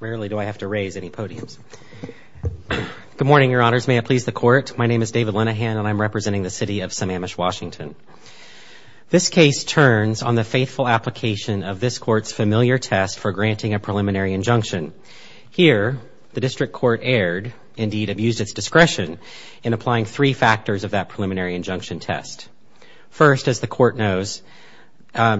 Rarely do I have to raise any podiums. Good morning, your honors. May it please the court. My name is David Linehan and I'm representing the City of Sammamish, Washington. This case turns on the faithful application of this court's familiar test for granting a preliminary injunction. Here, the district court erred, indeed abused its discretion in applying three court notes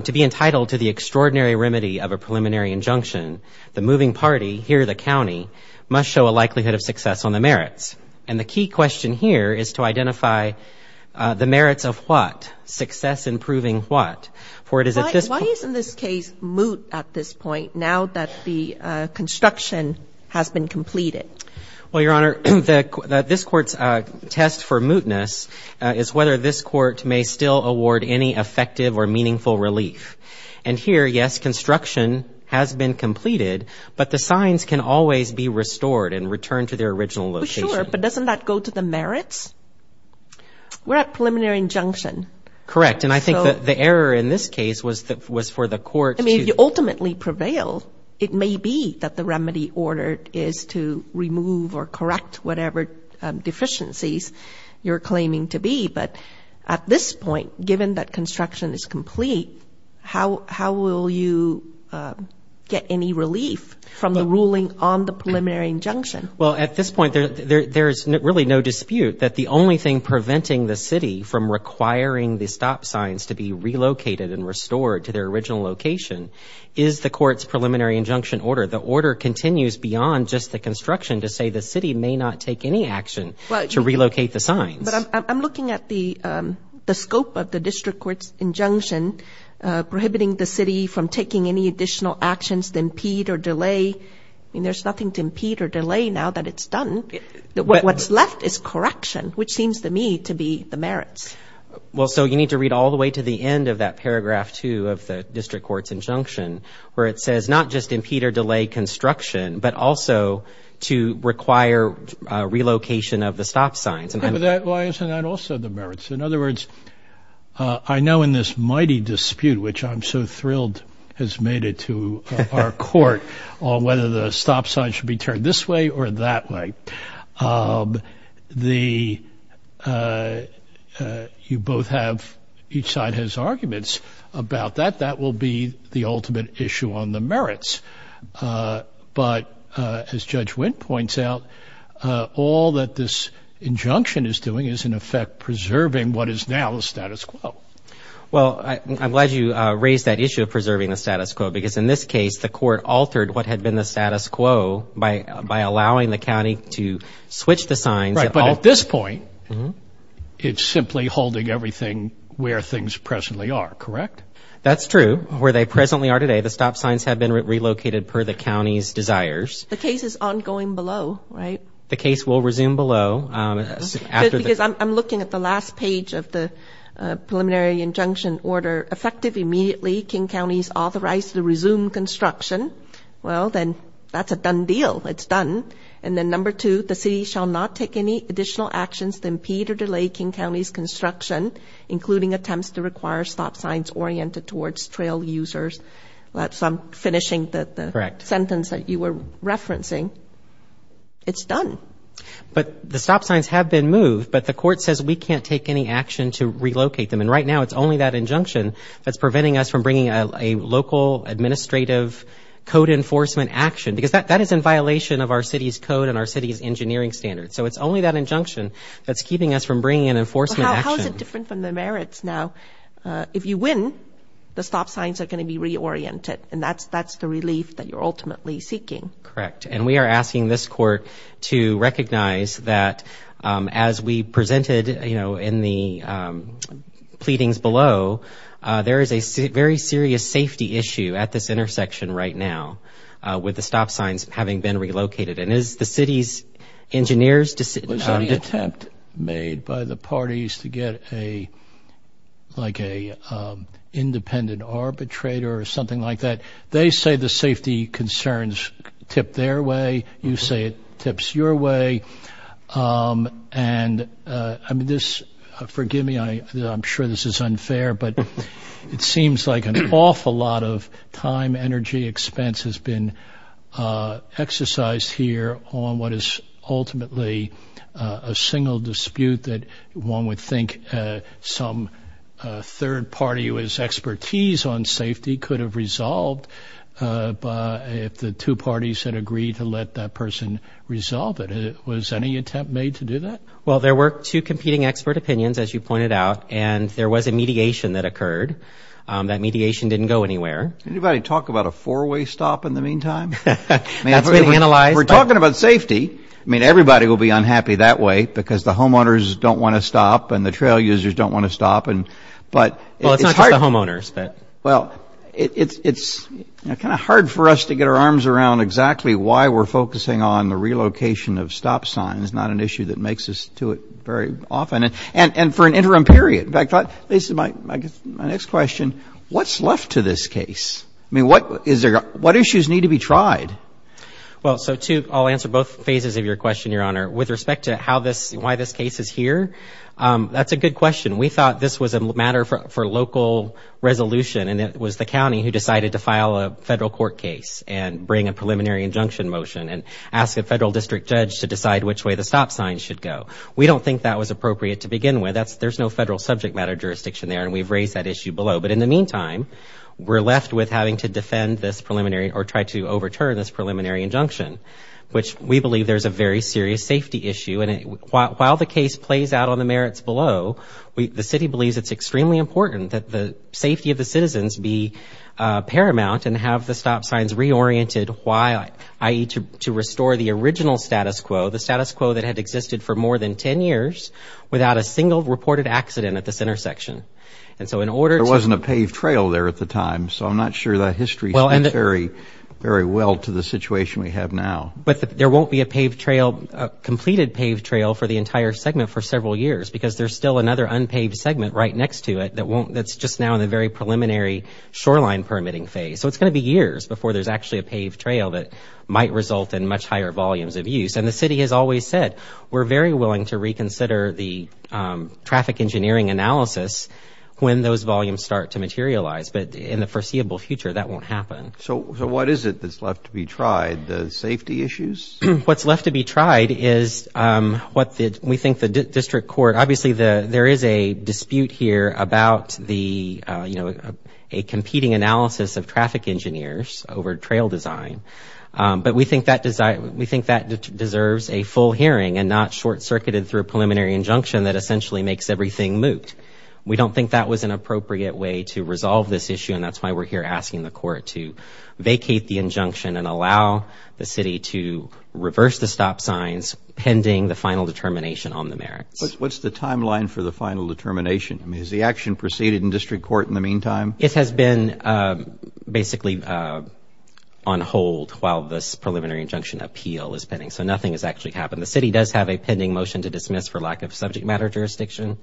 to be entitled to the extraordinary remedy of a preliminary injunction. The moving party here, the county, must show a likelihood of success on the merits. And the key question here is to identify the merits of what? Success in proving what? Why isn't this case moot at this point, now that the construction has been completed? Well, your honor, this court's test for mootness is whether this court may still award any effective or meaningful relief. And here, yes, construction has been completed, but the signs can always be restored and returned to their original location. Sure, but doesn't that go to the merits? We're at preliminary injunction. Correct. And I think that the error in this case was for the court to I mean, you ultimately prevail. It may be that the remedy order is to remove or correct whatever deficiencies you're claiming to be. But at this point, given that construction is complete, how how will you get any relief from the ruling on the preliminary injunction? Well, at this point, there's really no dispute that the only thing preventing the city from requiring the stop signs to be relocated and restored to their original location is the court's preliminary injunction order. The order continues beyond just the construction to say the city may not take any action to relocate the signs. But I'm looking at the scope of the district court's injunction prohibiting the city from taking any additional actions to impede or delay. I mean, there's nothing to impede or delay now that it's done. What's left is correction, which seems to me to be the merits. Well, so you need to read all the way to the end of that paragraph two of the district court's injunction, where it says not just impede or delay construction, but also to require relocation of the stop signs. Why isn't that also the merits? In other words, I know in this mighty dispute, which I'm so thrilled has made it to our court on whether the stop sign should be turned this way or that way. You both have, each side has arguments about that. That will be the ultimate issue on the merits. But as Judge Wendt points out, all that this injunction is doing is in effect preserving what is now the status quo. Well, I'm glad you raised that issue of preserving the status quo because in this case, the court is allowing the county to switch the signs. Right, but at this point, it's simply holding everything where things presently are, correct? That's true. Where they presently are today, the stop signs have been relocated per the county's desires. The case is ongoing below, right? The case will resume below. Because I'm looking at the last page of the preliminary injunction order. Effective immediately, King County is authorized to resume construction. Well, then that's a done deal. It's done. And then number two, the city shall not take any additional actions to impede or delay King County's construction, including attempts to require stop signs oriented towards trail users. That's, I'm finishing the sentence that you were referencing. It's done. But the stop signs have been moved, but the court says we can't take any action to relocate them. And right now, it's only that injunction that's preventing us from bringing a local administrative code enforcement action because that is in violation of our city's code and our city's engineering standards. So it's only that injunction that's keeping us from bringing an enforcement action. How is it different from the merits now? If you win, the stop signs are going to be reoriented, and that's the relief that you're ultimately seeking. Correct. And we are asking this court to recognize that as we presented in the preliminary injunction pleadings below, there is a very serious safety issue at this intersection right now with the stop signs having been relocated. And as the city's engineers decide to attempt made by the parties to get a like a independent arbitrator or something like that, they say the safety concerns tip their way. You say it tips your way. And I mean, this forgive me, I'm sure this is unfair, but it seems like an awful lot of time, energy expense has been exercised here on what is ultimately a single dispute that one would think some third party who has expertise on safety could have resolved if the two parties had agreed to let that person resolve it. Was any attempt made to do that? Well, there were two competing expert opinions, as you pointed out, and there was a mediation that occurred. That mediation didn't go anywhere. Anybody talk about a four-way stop in the meantime? That's been analyzed. We're talking about safety. I mean, everybody will be unhappy that way because the homeowners don't want to stop and the trail users don't want to stop. Well, it's not just the homeowners, but... Well, it's kind of hard for us to get our arms around exactly why we're focusing on the relocation of stop signs, not an issue that makes us to it very often, and for an interim period. In fact, Lisa, my next question, what's left to this case? I mean, what issues need to be tried? Well, so I'll answer both phases of your question, Your Honor. With respect to how this, why this case is here, that's a good question. We thought this was a matter for local resolution and it was the county who decided to file a federal court case and bring a preliminary injunction motion and ask a federal district judge to decide which way the stop signs should go. We don't think that was appropriate to begin with. There's no federal subject matter jurisdiction there and we've raised that issue below. But in the meantime, we're left with having to defend this preliminary or try to overturn this preliminary injunction, which we believe there's a very serious safety issue. And while the case plays out on the merits below, the city believes it's extremely important that the safety of the citizens be paramount and have the stop signs reoriented while, i.e., to restore the original status quo, the status quo that had existed for more than 10 years, without a single reported accident at this intersection. And so in order to... There wasn't a paved trail there at the time, so I'm not sure that history speaks very well to the situation we have now. But there won't be a paved trail, a completed paved trail for the entire segment for several years because there's still another unpaved segment right next to it that won't, that's just now in the very preliminary shoreline permitting phase. So it's going to be years before there's actually a paved trail that might result in much higher volumes of use. And the city has always said, we're very willing to reconsider the traffic engineering analysis when those volumes start to materialize. But in the foreseeable future, that won't happen. So what is it that's left to be tried? The safety issues? What's left to be tried is what we think the district court... Obviously, there is a dispute here about the, you know, a competing analysis of traffic engineers over trail design. But we think that deserves a full hearing and not short-circuited through a preliminary injunction that essentially makes everything moot. We don't think that was an appropriate way to resolve this issue, and that's why we're here asking the court to vacate the injunction and allow the city to reverse the stop signs pending the final determination on the merits. What's the timeline for the final determination? I mean, has the action proceeded in district court in the meantime? It has been basically on hold while this preliminary injunction appeal is pending. So nothing has actually happened. The city does have a pending motion to dismiss for lack of subject matter jurisdiction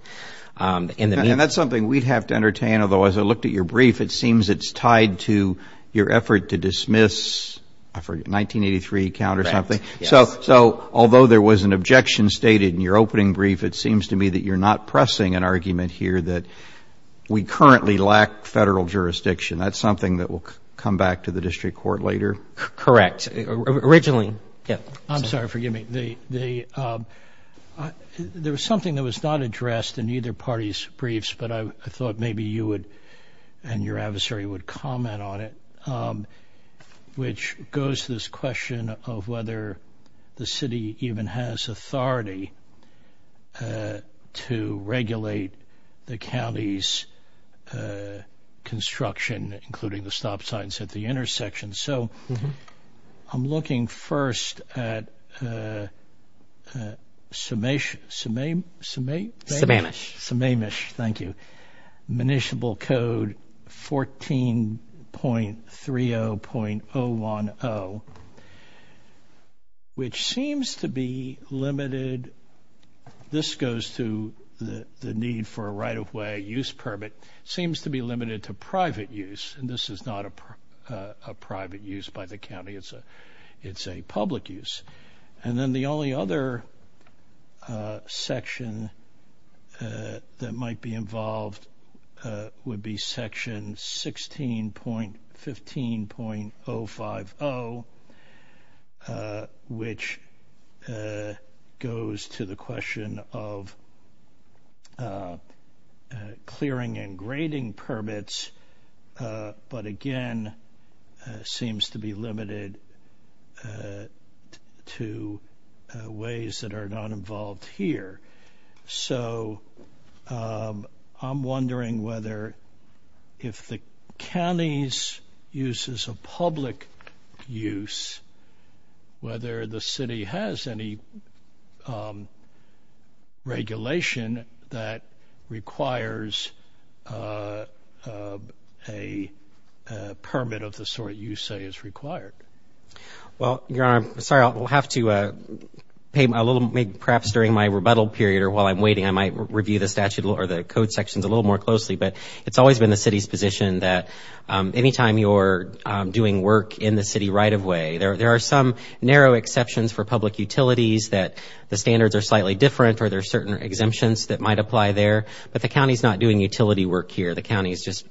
in the... And that's something we'd have to entertain. Although, as I looked at your brief, it seems it's tied to your effort to dismiss, I forget, 1983 count or something. So, although there was an objection stated in your opening brief, it seems to me that you're not pressing an argument here that we currently lack federal jurisdiction. That's something that will come back to the district court later? Correct. Originally, yeah. I'm sorry, forgive me. There was something that was not addressed in either party's briefs, but I thought maybe you would and your adversary would comment on it, which goes to this question of whether the city even has authority to regulate the county's construction, including the stop signs at the intersection. So I'm looking first at Sammamish, thank you, municipal code 14.30.010, which seems to be limited, this goes to the need for a right-of-way use permit, seems to be limited to private use, and this is not a private use by the would be section 16.15.050, which goes to the question of clearing and grading permits, but again, seems to be limited to ways that are not involved here. So, I'm wondering whether if the county's use is a public use, whether the city has any regulation that requires a permit of the sort you say is required? Well, Your Honor, sorry, I'll have to pay a little, maybe perhaps during my rebuttal period or while I'm waiting, I might review the statute or the code sections a little more closely, but it's always been the city's position that any time you're doing work in the city right-of-way, there are some narrow exceptions for public utilities that the standards are slightly different or there are certain exemptions that might apply there, but the county's not doing utility work here, the county's just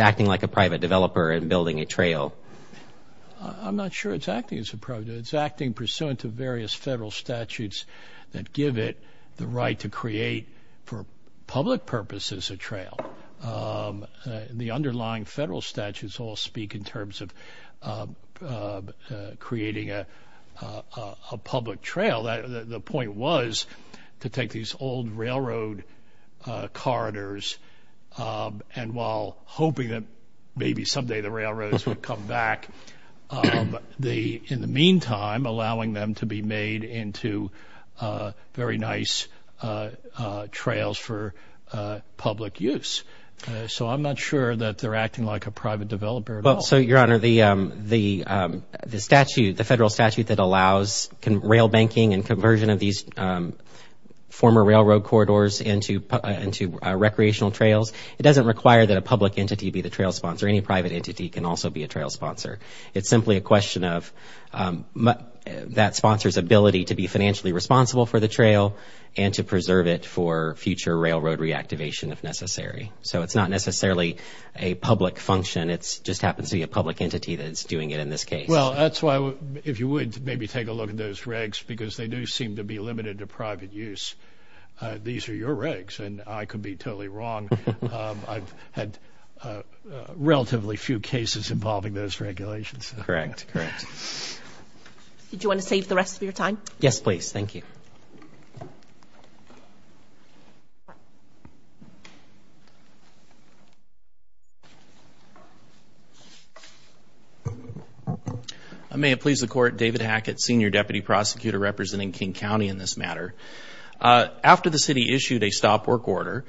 acting like a private developer and building a trail. I'm not sure it's acting as a private, it's acting pursuant to various federal statutes that give it the right to create, for public purposes, a trail. The underlying federal statutes all speak in terms of creating a public trail. The point was to take these old railroad corridors and while hoping that maybe someday the railroads would come back, in the meantime, allowing them to be made into very nice trails for public use. So I'm not sure that they're acting like a private developer at all. So, Your Honor, the statute, the federal statute that allows rail banking and conversion of these former railroad corridors into recreational trails, it doesn't require that a public entity be the trail sponsor. Any private entity can also be a trail sponsor. It's simply a question of that sponsor's ability to be financially responsible for the trail and to preserve it for future railroad reactivation if necessary. So it's not necessarily a public function, it just happens to be a public entity that's doing it in this case. Well, that's why, if you would, maybe take a look at those regs because they do seem to be limited to private use. These are your regs and I could be totally wrong. I've had relatively few cases involving those regulations. Correct. Correct. Did you want to save the rest of your time? Yes, please. Thank you. May it please the Court, David Hackett, Senior Deputy Prosecutor representing King County in this matter. After the city issued a stop work order,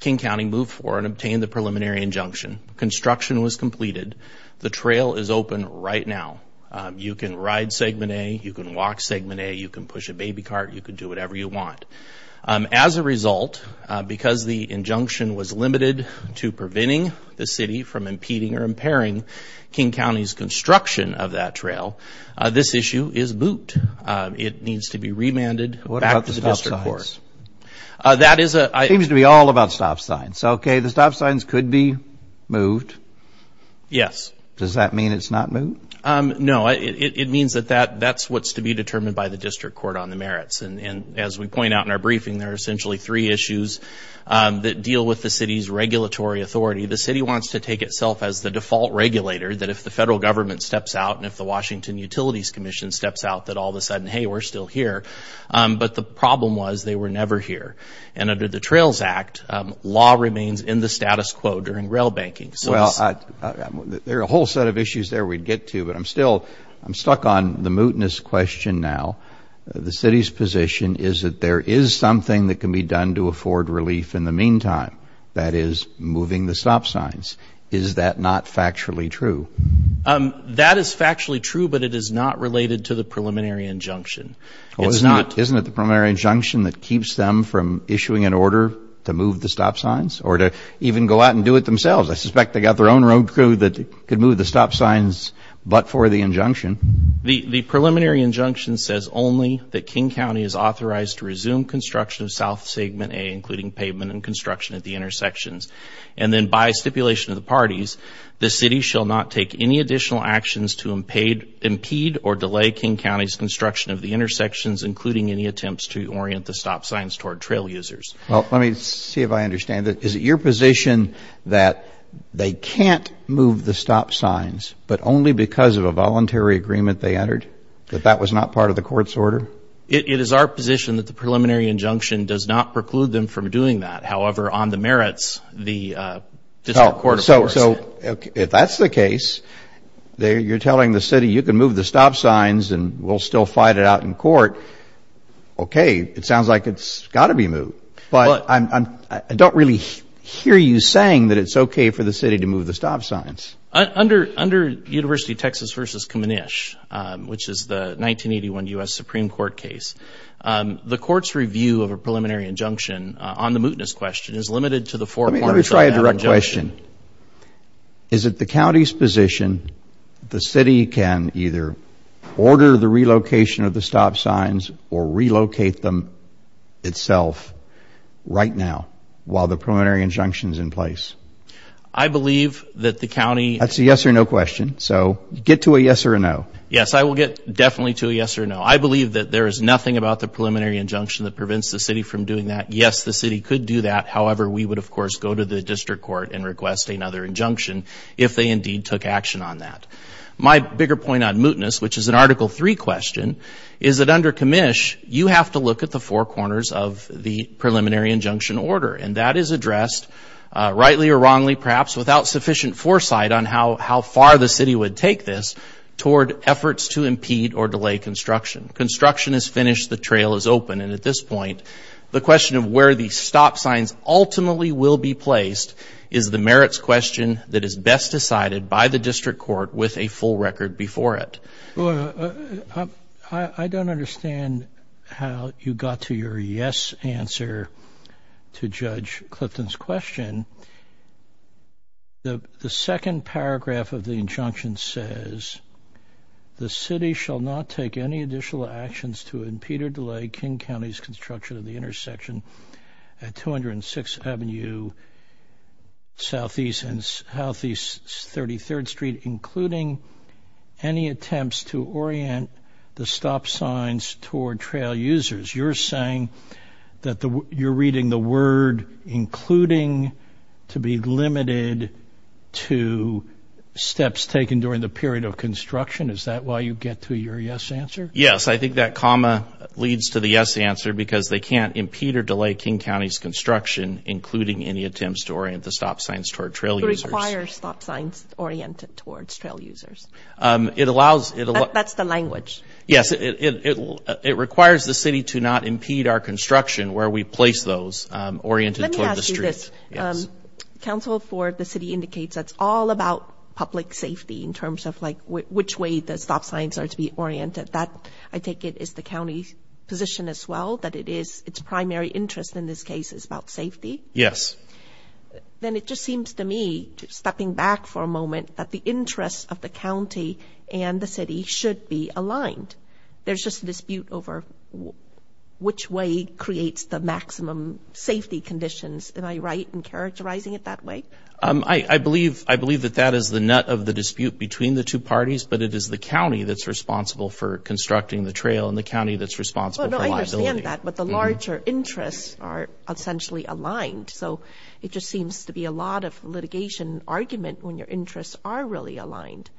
King County moved forward and obtained the preliminary injunction. Construction was completed. The trail is open right now. You can ride Segment A, you can walk Segment A, you can push a baby cart, you can do whatever you want. As a result, because the injunction was limited to preventing the city from impeding or impairing King County's construction of that trail, this issue is moot. It needs to be remanded back to the District Court. What about the stop signs? That is a... Seems to be all about stop signs. Okay, the stop signs could be moved. Yes. Does that mean it's not moot? No, it means that that's what's to be determined by the District Court on the merits. As we point out in our briefing, there are essentially three issues that deal with the city's regulatory authority. The city wants to take itself as the default regulator, that if the federal government steps out and if the Washington Utilities Commission steps out, that all of a sudden, hey, we're still here. But the problem was they were never here. Under the Trails Act, law remains in the status quo during rail banking. There are a whole set of issues there we'd get to, but I'm still... I'm stuck on the mootness question now. The city's position is that there is something that can be done to afford relief in the meantime, that is moving the stop signs. Is that not factually true? That is factually true, but it is not related to the preliminary injunction. It's not... Isn't it the preliminary injunction that keeps them from issuing an order to move the stop signs or to even go out and do it themselves? I suspect they've got their own road crew that could move the stop signs, but for the injunction. The preliminary injunction says only that King County is authorized to resume construction of South Segment A, including pavement and construction at the intersections. And then by stipulation of the parties, the city shall not take any additional actions to impede or delay King County's construction of the intersections, including any attempts to orient the stop signs toward trail users. Well, let me see if I understand this. Is it your position that they can't move the stop signs, but only because of a voluntary agreement they entered, that that was not part of the court's order? It is our position that the preliminary injunction does not preclude them from doing that. However, on the merits, the District Court of Courts... So, if that's the case, you're telling the city, you can move the stop signs and we'll still fight it out in court. Okay, it sounds like it's got to be moved, but I don't really hear you saying that it's okay for the city to move the stop signs. Under University of Texas v. Kamanish, which is the 1981 U.S. Supreme Court case, the court's review of a preliminary injunction on the mootness question is limited to the four forms of that injunction. My question is, is it the county's position that the city can either order the relocation of the stop signs or relocate them itself, right now, while the preliminary injunction is in place? I believe that the county... That's a yes or no question, so get to a yes or a no. Yes, I will get definitely to a yes or a no. I believe that there is nothing about the preliminary injunction that prevents the city from doing that. Yes, the city could do that. However, we would, of course, go to the district court and request another injunction if they indeed took action on that. My bigger point on mootness, which is an Article III question, is that under Kamanish, you have to look at the four corners of the preliminary injunction order, and that is addressed, rightly or wrongly, perhaps without sufficient foresight on how far the city would take this toward efforts to impede or delay construction. Construction is finished, the trail is open, and at this point, the question of where the stop signs ultimately will be placed is the merits question that is best decided by the district court with a full record before it. I don't understand how you got to your yes answer to Judge Clifton's question. The second paragraph of the injunction says, the city shall not take any additional actions to impede or delay King County's construction of the intersection at 206th Avenue, Southeast and Southeast 33rd Street, including any attempts to orient the stop signs toward trail users. You're saying that you're reading the word, including, to be limited to steps taken during the period of construction. Is that why you get to your yes answer? Yes, I think that comma leads to the yes answer because they can't impede or delay King County's construction, including any attempts to orient the stop signs toward trail users. It requires stop signs oriented towards trail users. That's the language. Yes, it requires the city to not impede our construction where we place those, oriented toward the street. Let me ask you this. Council for the city indicates that's all about public safety in this case, but I take it is the county's position as well that it is its primary interest in this case is about safety. Yes. Then it just seems to me, stepping back for a moment, that the interests of the county and the city should be aligned. There's just a dispute over which way creates the maximum safety conditions. Am I right in characterizing it that way? I believe that that is the nut of the dispute between the two parties, but it is the county that's responsible for constructing the trail and the county that's responsible for liability. I understand that, but the larger interests are essentially aligned. It just seems to be a lot of litigation argument when your interests are really aligned.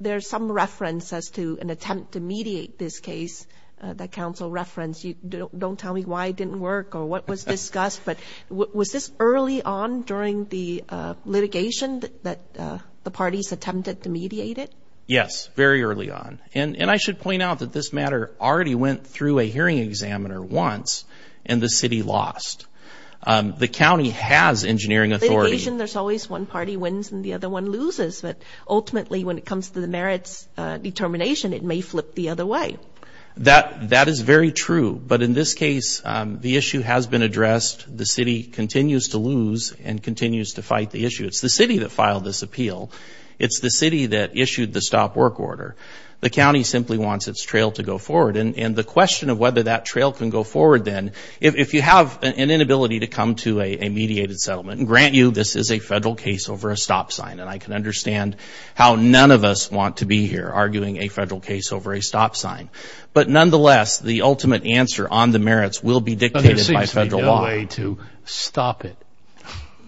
There's some reference as to an attempt to mediate this case that council referenced. Don't tell me why it didn't work or what was discussed, but was this early on during the parties attempted to mediate it? Yes, very early on. I should point out that this matter already went through a hearing examiner once and the city lost. The county has engineering authority. There's always one party wins and the other one loses, but ultimately when it comes to the merits determination, it may flip the other way. That is very true, but in this case, the issue has been addressed. The city continues to fight the issue. It's the city that filed this appeal. It's the city that issued the stop work order. The county simply wants its trail to go forward. The question of whether that trail can go forward then, if you have an inability to come to a mediated settlement, grant you, this is a federal case over a stop sign. I can understand how none of us want to be here arguing a federal case over a stop sign, but nonetheless, the ultimate answer on the merits will be dictated by federal law. Is there a way to stop it?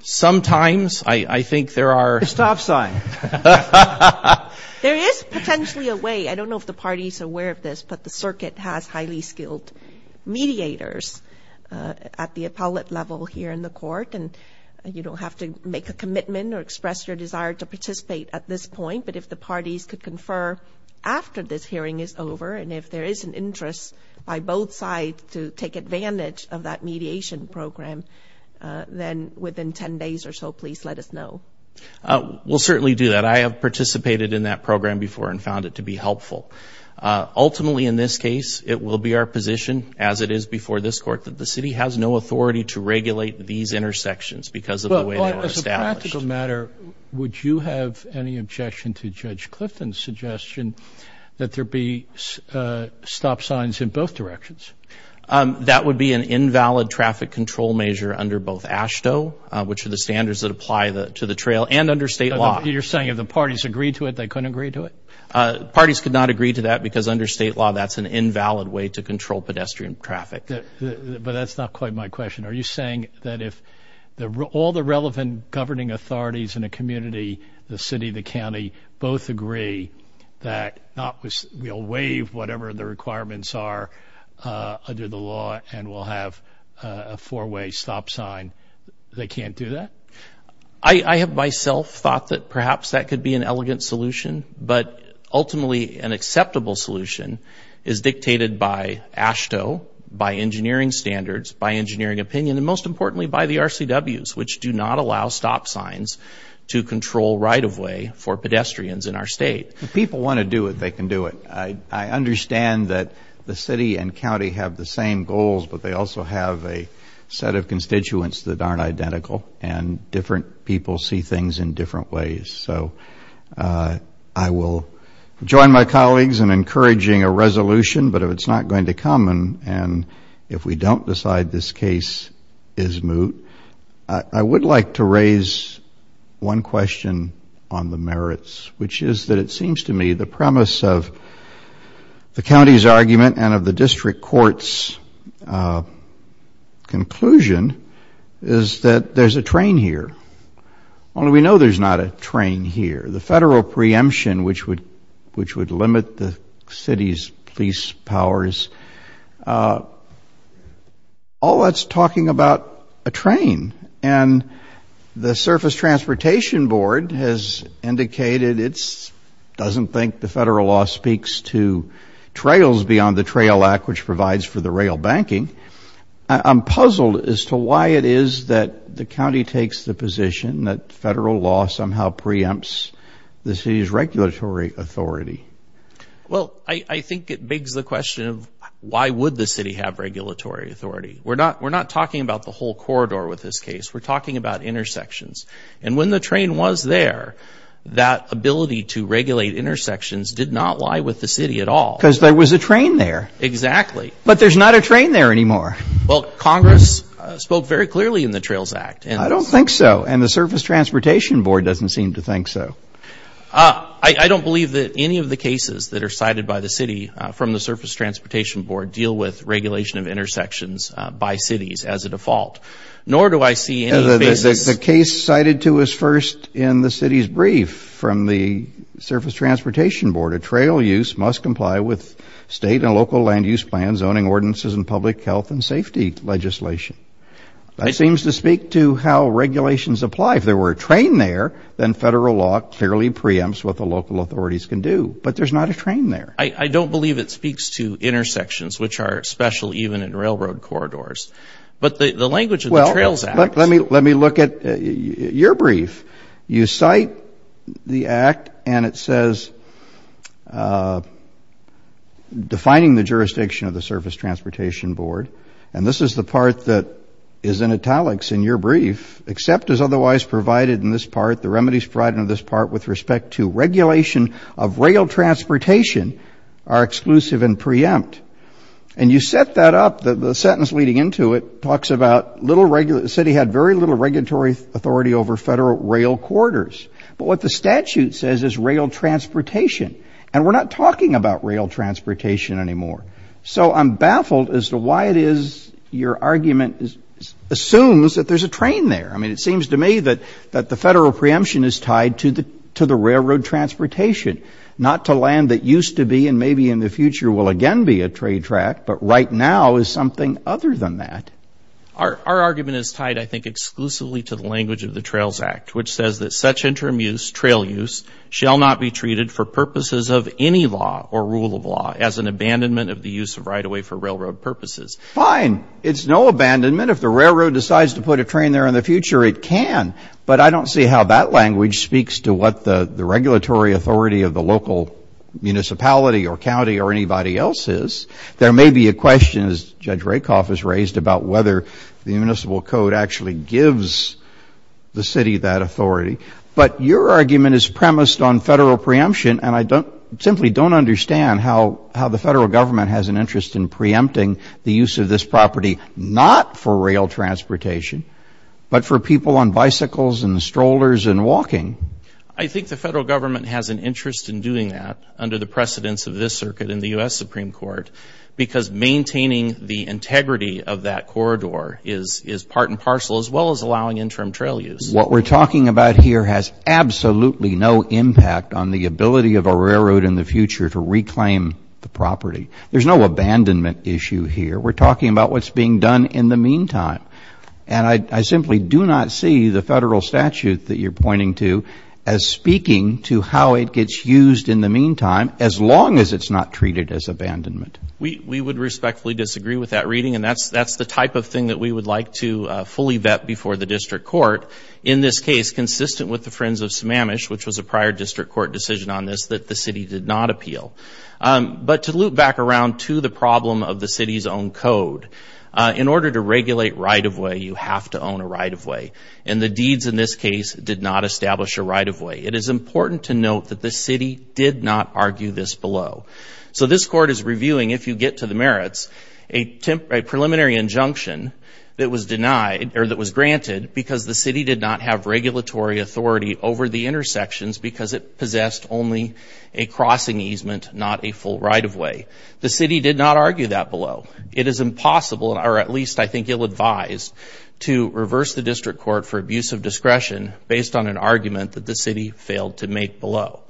Sometimes. I think there are... A stop sign. There is potentially a way. I don't know if the party is aware of this, but the circuit has highly skilled mediators at the appellate level here in the court. You don't have to make a commitment or express your desire to participate at this point, but if the parties could confer after this hearing is over and if there is an interest by both sides to take advantage of that mediation program, then within 10 days or so, please let us know. We'll certainly do that. I have participated in that program before and found it to be helpful. Ultimately, in this case, it will be our position, as it is before this court, that the city has no authority to regulate these intersections because of the way they were established. As a practical matter, would you have any objection to Judge Clifton's suggestion that there be stop signs in both directions? That would be an invalid traffic control measure under both AASHTO, which are the standards that apply to the trail, and under state law. You're saying if the parties agreed to it, they couldn't agree to it? Parties could not agree to that because under state law, that's an invalid way to control pedestrian traffic. But that's not quite my question. Are you saying that if all the relevant governing authorities in a community, the city, the county, both agree that we'll waive whatever the requirements are under the law and we'll have a four-way stop sign, they can't do that? I have myself thought that perhaps that could be an elegant solution, but ultimately an acceptable solution is dictated by AASHTO, by engineering standards, by engineering opinion, and most importantly, by the RCWs, which do not allow stop signs to control right-of-way for pedestrians in our state. If people want to do it, they can do it. I understand that the city and county have the same goals, but they also have a set of constituents that aren't identical, and different people see things in different ways. So I will join my colleagues in encouraging a resolution, but if it's not going to come and if we don't decide this case is moot, I would like to raise one question on the board. It seems to me the premise of the county's argument and of the district court's conclusion is that there's a train here. Only we know there's not a train here. The federal preemption, which would limit the city's police powers, all that's talking about a train, and the Surface Transportation Board has indicated it doesn't think the federal law speaks to trails beyond the Trail Act, which provides for the rail banking. I'm puzzled as to why it is that the county takes the position that federal law somehow preempts the city's regulatory authority. Well, I think it begs the question of why would the city have regulatory authority? We're not talking about the whole corridor with this case. We're talking about intersections. And when the train was there, that ability to regulate intersections did not lie with the city at all. Because there was a train there. Exactly. But there's not a train there anymore. Well, Congress spoke very clearly in the Trails Act. I don't think so, and the Surface Transportation Board doesn't seem to think so. I don't believe that any of the cases that are cited by the city from the Surface Transportation Board deal with regulation of intersections by cities as a default. Nor do I see any cases The case cited to us first in the city's brief from the Surface Transportation Board, a trail use must comply with state and local land use plans, zoning ordinances, and public health and safety legislation. That seems to speak to how regulations apply. If there were a train there, then federal law clearly preempts what the local authorities can do. But there's not a train there. I don't believe it speaks to intersections, which are special even in railroad corridors. But the language of the Trails Act... Well, let me look at your brief. You cite the act, and it says, defining the jurisdiction of the Surface Transportation Board. And this is the part that is in italics in your brief. Except as otherwise provided in this part, the remedies provided in this part with respect to regulation of rail transportation are exclusive and preempt. And you set that up, the sentence leading into it, talks about the city had very little regulatory authority over federal rail corridors. But what the statute says is rail transportation. And we're not talking about rail transportation anymore. So I'm baffled as to why it is your argument assumes that there's a train there. I mean, it seems to me that the federal preemption is tied to the railroad transportation, not to land that used to be and maybe in the future will again be a trade track. But right now is something other than that. Our argument is tied, I think, exclusively to the language of the Trails Act, which says that such interim use, trail use, shall not be treated for purposes of any law or rule of law as an abandonment of the use of right-of-way for railroad purposes. Fine. It's no abandonment. If the railroad decides to put a train there in the future, it can. But I don't see how that language speaks to what the regulatory authority of the local municipality or county or anybody else is. There may be a question, as Judge Rakoff has raised, about whether the municipal code actually gives the city that authority. But your argument is premised on federal preemption. And I simply don't understand how the federal government has an interest in preempting the use of this property not for rail transportation, but for people on bicycles and strollers and walking. I think the federal government has an interest in doing that under the precedence of this circuit in the U.S. Supreme Court, because maintaining the integrity of that corridor is part and parcel, as well as allowing interim trail use. What we're talking about here has absolutely no impact on the ability of a railroad in the future to reclaim the property. There's no abandonment issue here. We're talking about what's being done in the meantime. And I simply do not see the federal statute that you're pointing to as speaking to how it gets used in the meantime, as long as it's not treated as abandonment. We would respectfully disagree with that reading. And that's the type of thing that we would like to fully vet before the district court, in this case consistent with the Friends of Sammamish, which was a prior district court decision on this, that the city did not appeal. But to loop back around to the problem of the city's own code, in order to regulate right-of-way, you have to own a right-of-way. And the deeds in this case did not establish a right-of-way. It is important to note that the city did not argue this below. So this court is reviewing, if you get to the merits, a preliminary injunction that was denied, or that was granted, because the city did not have regulatory authority over the intersections because it possessed only a crossing easement, not a full right-of-way. The city did not argue that below. It is impossible, or at least I think ill-advised, to reverse the district court for abuse of discretion based on an argument that the city failed to make below.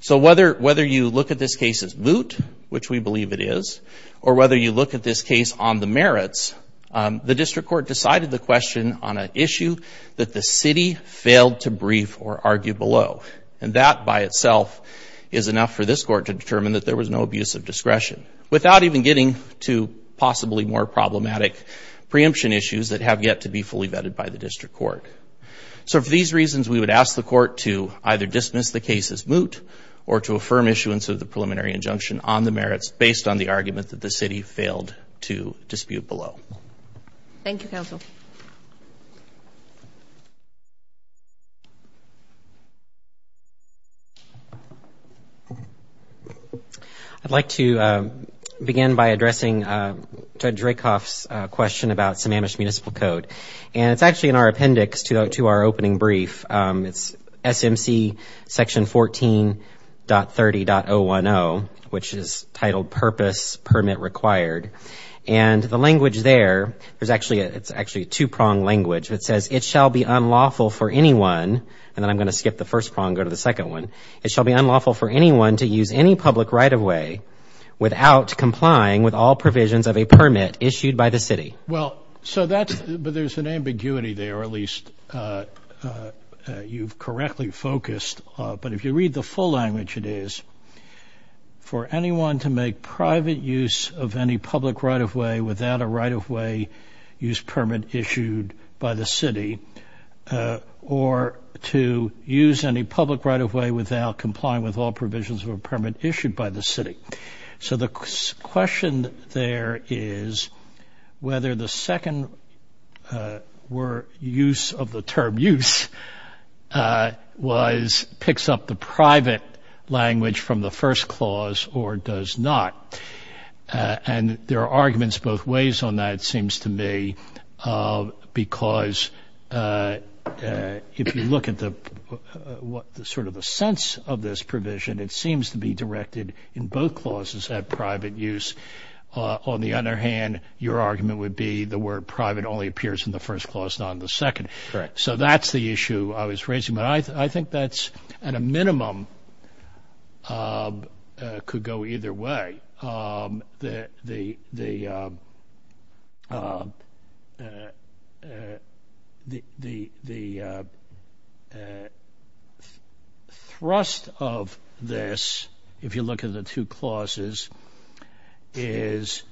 So whether you look at this case as moot, which we believe it is, or whether you look at this case on the merits, the district court decided the question on an issue that the city failed to dispute below. And that, by itself, is enough for this court to determine that there was no abuse of discretion, without even getting to possibly more problematic preemption issues that have yet to be fully vetted by the district court. So for these reasons, we would ask the court to either dismiss the case as moot, or to affirm issuance of the preliminary injunction on the merits, based on the argument that the city failed to dispute below. Thank you, counsel. I'd like to begin by addressing Judge Rakoff's question about Sammamish Municipal Code. And it's actually in our appendix to our opening brief. It's SMC section 14.30.010, which is there. It's actually a two-prong language that says, it shall be unlawful for anyone — and then I'm going to skip the first prong and go to the second one — it shall be unlawful for anyone to use any public right-of-way without complying with all provisions of a permit issued by the city. Well, so that's — but there's an ambiguity there, or at least you've correctly focused. But if you read the full language, it is, for anyone to make private use of any public right-of-way without a right-of-way use permit issued by the city, or to use any public right-of-way without complying with all provisions of a permit issued by the city. So the question there is whether the second use of the term use was — picks up the private language from the first clause or does not. And there are arguments both ways on that, it seems to me, because if you look at the — sort of the sense of this provision, it seems to be directed in both clauses at private use. On the other hand, your argument would be the word private only appears in the first clause, not in the second. Correct. So that's the issue I was raising. But I think that's, at a minimum, could go either way. The thrust of this, if you look at the two clauses, is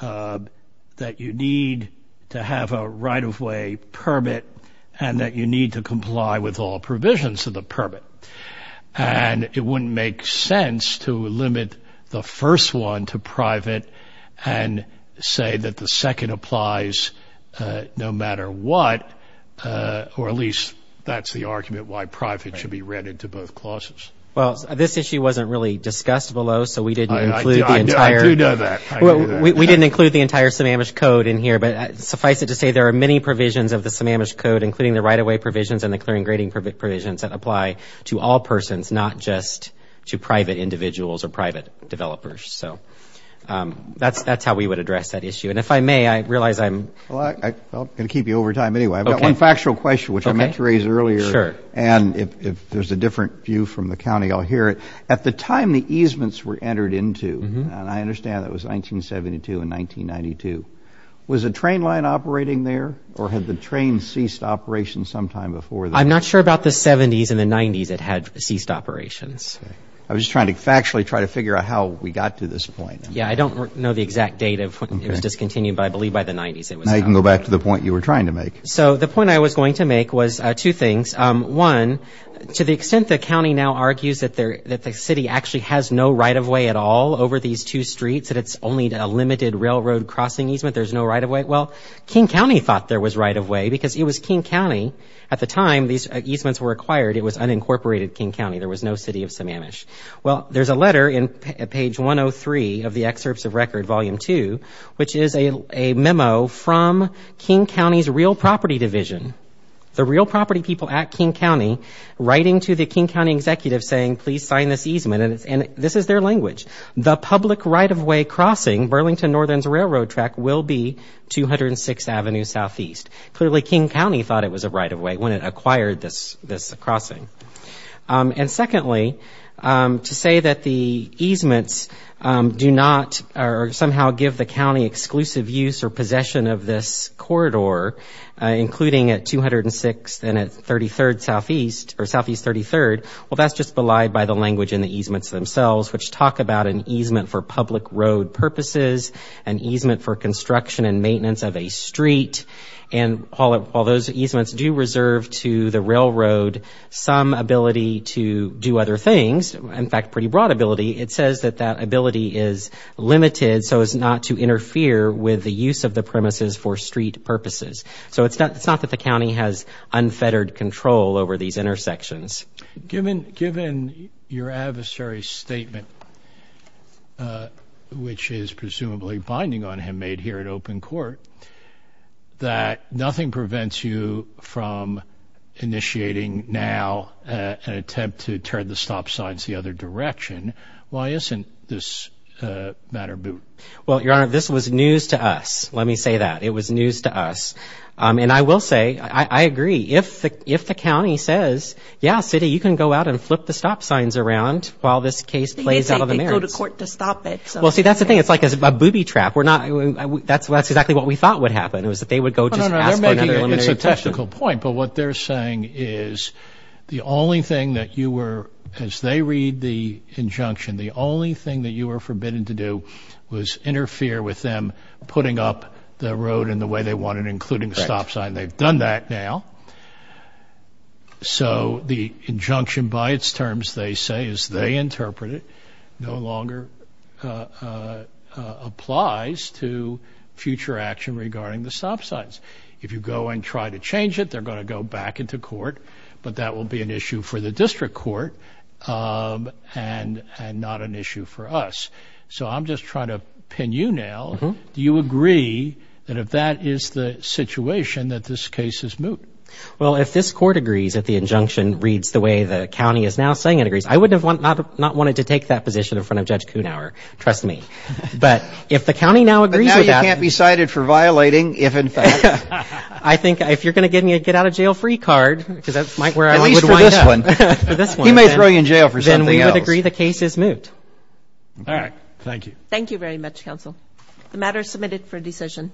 that you need to have a right-of-way permit and that you need to comply with all provisions of the permit. And it wouldn't make sense to limit the first one to private and say that the second applies no matter what, or at least that's the argument why private should be read into both clauses. Well, this issue wasn't really discussed below, so we didn't include the entire — I do know that. I do know that. We didn't include the entire Sammamish Code in here, but suffice it to say, there are many provisions of the Sammamish Code, including the right-of-way provisions and the clearing grading provisions that apply to all persons, not just to private individuals or private developers. So that's how we would address that issue. And if I may, I realize I'm — Well, I'm going to keep you over time anyway. I've got one factual question, which I meant to raise earlier. Sure. And if there's a different view from the county, I'll hear it. At the time the easements were entered into — Mm-hmm. And I understand that was 1972 and 1992. Was a train line operating there, or had the train ceased operation sometime before that? I'm not sure about the 70s and the 90s it had ceased operations. Okay. I was just trying to factually try to figure out how we got to this point. Yeah, I don't know the exact date of when it was discontinued, but I believe by the 90s it was discontinued. Now you can go back to the point you were trying to make. So the point I was going to make was two things. One, to the extent the county now argues that the city actually has no right-of-way at all over these two streets, that it's only a limited railroad crossing easement, there's no right-of-way. Well, King County thought there was right-of-way because it was King County. At the time these easements were acquired, it was unincorporated King County. There was no city of Sammamish. Well, there's a letter in page 103 of the Excerpts of Record, Volume 2, which is a memo from King County's Real Property Division. The real property people at King County writing to the King County executive saying, please sign this easement. And this is their language. The public right-of-way crossing, Burlington Northern's railroad track, will be 206th Avenue SE. Clearly, King County thought it was a right-of-way when it acquired this crossing. And secondly, to say that the easements do not or somehow give the county exclusive use or possession of this corridor, including at 206th and at 33rd SE, or SE 33rd, well, that's just belied by the language in the easements themselves, which talk about an easement for public road purposes, an easement for construction and maintenance of a street. And while those easements do reserve to the railroad some ability to do other things, in fact, pretty broad ability, it says that that ability is limited so as not to interfere with the use of the premises for street purposes. So it's not that the county has unfettered control over these intersections. Given your adversary's statement, which is presumably binding on him, made here at Open Court, that nothing prevents you from initiating now an attempt to turn the stop signs the other direction, why isn't this a matter of boot? Well, Your Honor, this was news to us. Let me say that. It was news to us. And I will say, I agree, if the county says, yeah, city, you can go out and flip the stop signs around while this case plays out of the marriage. They didn't say they'd go to court to stop it. Well, see, that's the thing. It's like a booby trap. We're not... That's exactly what we thought would happen, is that they would go just ask for another eliminated section. No, no, no, they're making a statistical point. But what they're saying is the only thing that you were, as they read the injunction, the only thing that you were forbidden to do was interfere with them putting up the road in the way they wanted, including stop signs. They've done that now. So the injunction by its terms, they say, as they interpret it, no longer applies to future action regarding the stop signs. If you go and try to change it, they're going to go back into court. But that will be an issue for the district court and not an issue for us. So I'm just trying to pin you now. Do you agree that if that is the situation, that this case is moot? Well, if this court agrees that the injunction reads the way the county is now saying it agrees, I would have not wanted to take that position in front of Judge Kuhnauer, trust me. But if the county now agrees with that... But now you can't be cited for violating, if in fact... I think if you're going to get me a get out of jail free card, because that's where I would wind up. He may throw you in jail for something else. Then we would agree the case is moot. All right. Thank you. Thank you very much, counsel. The matter is submitted for decision.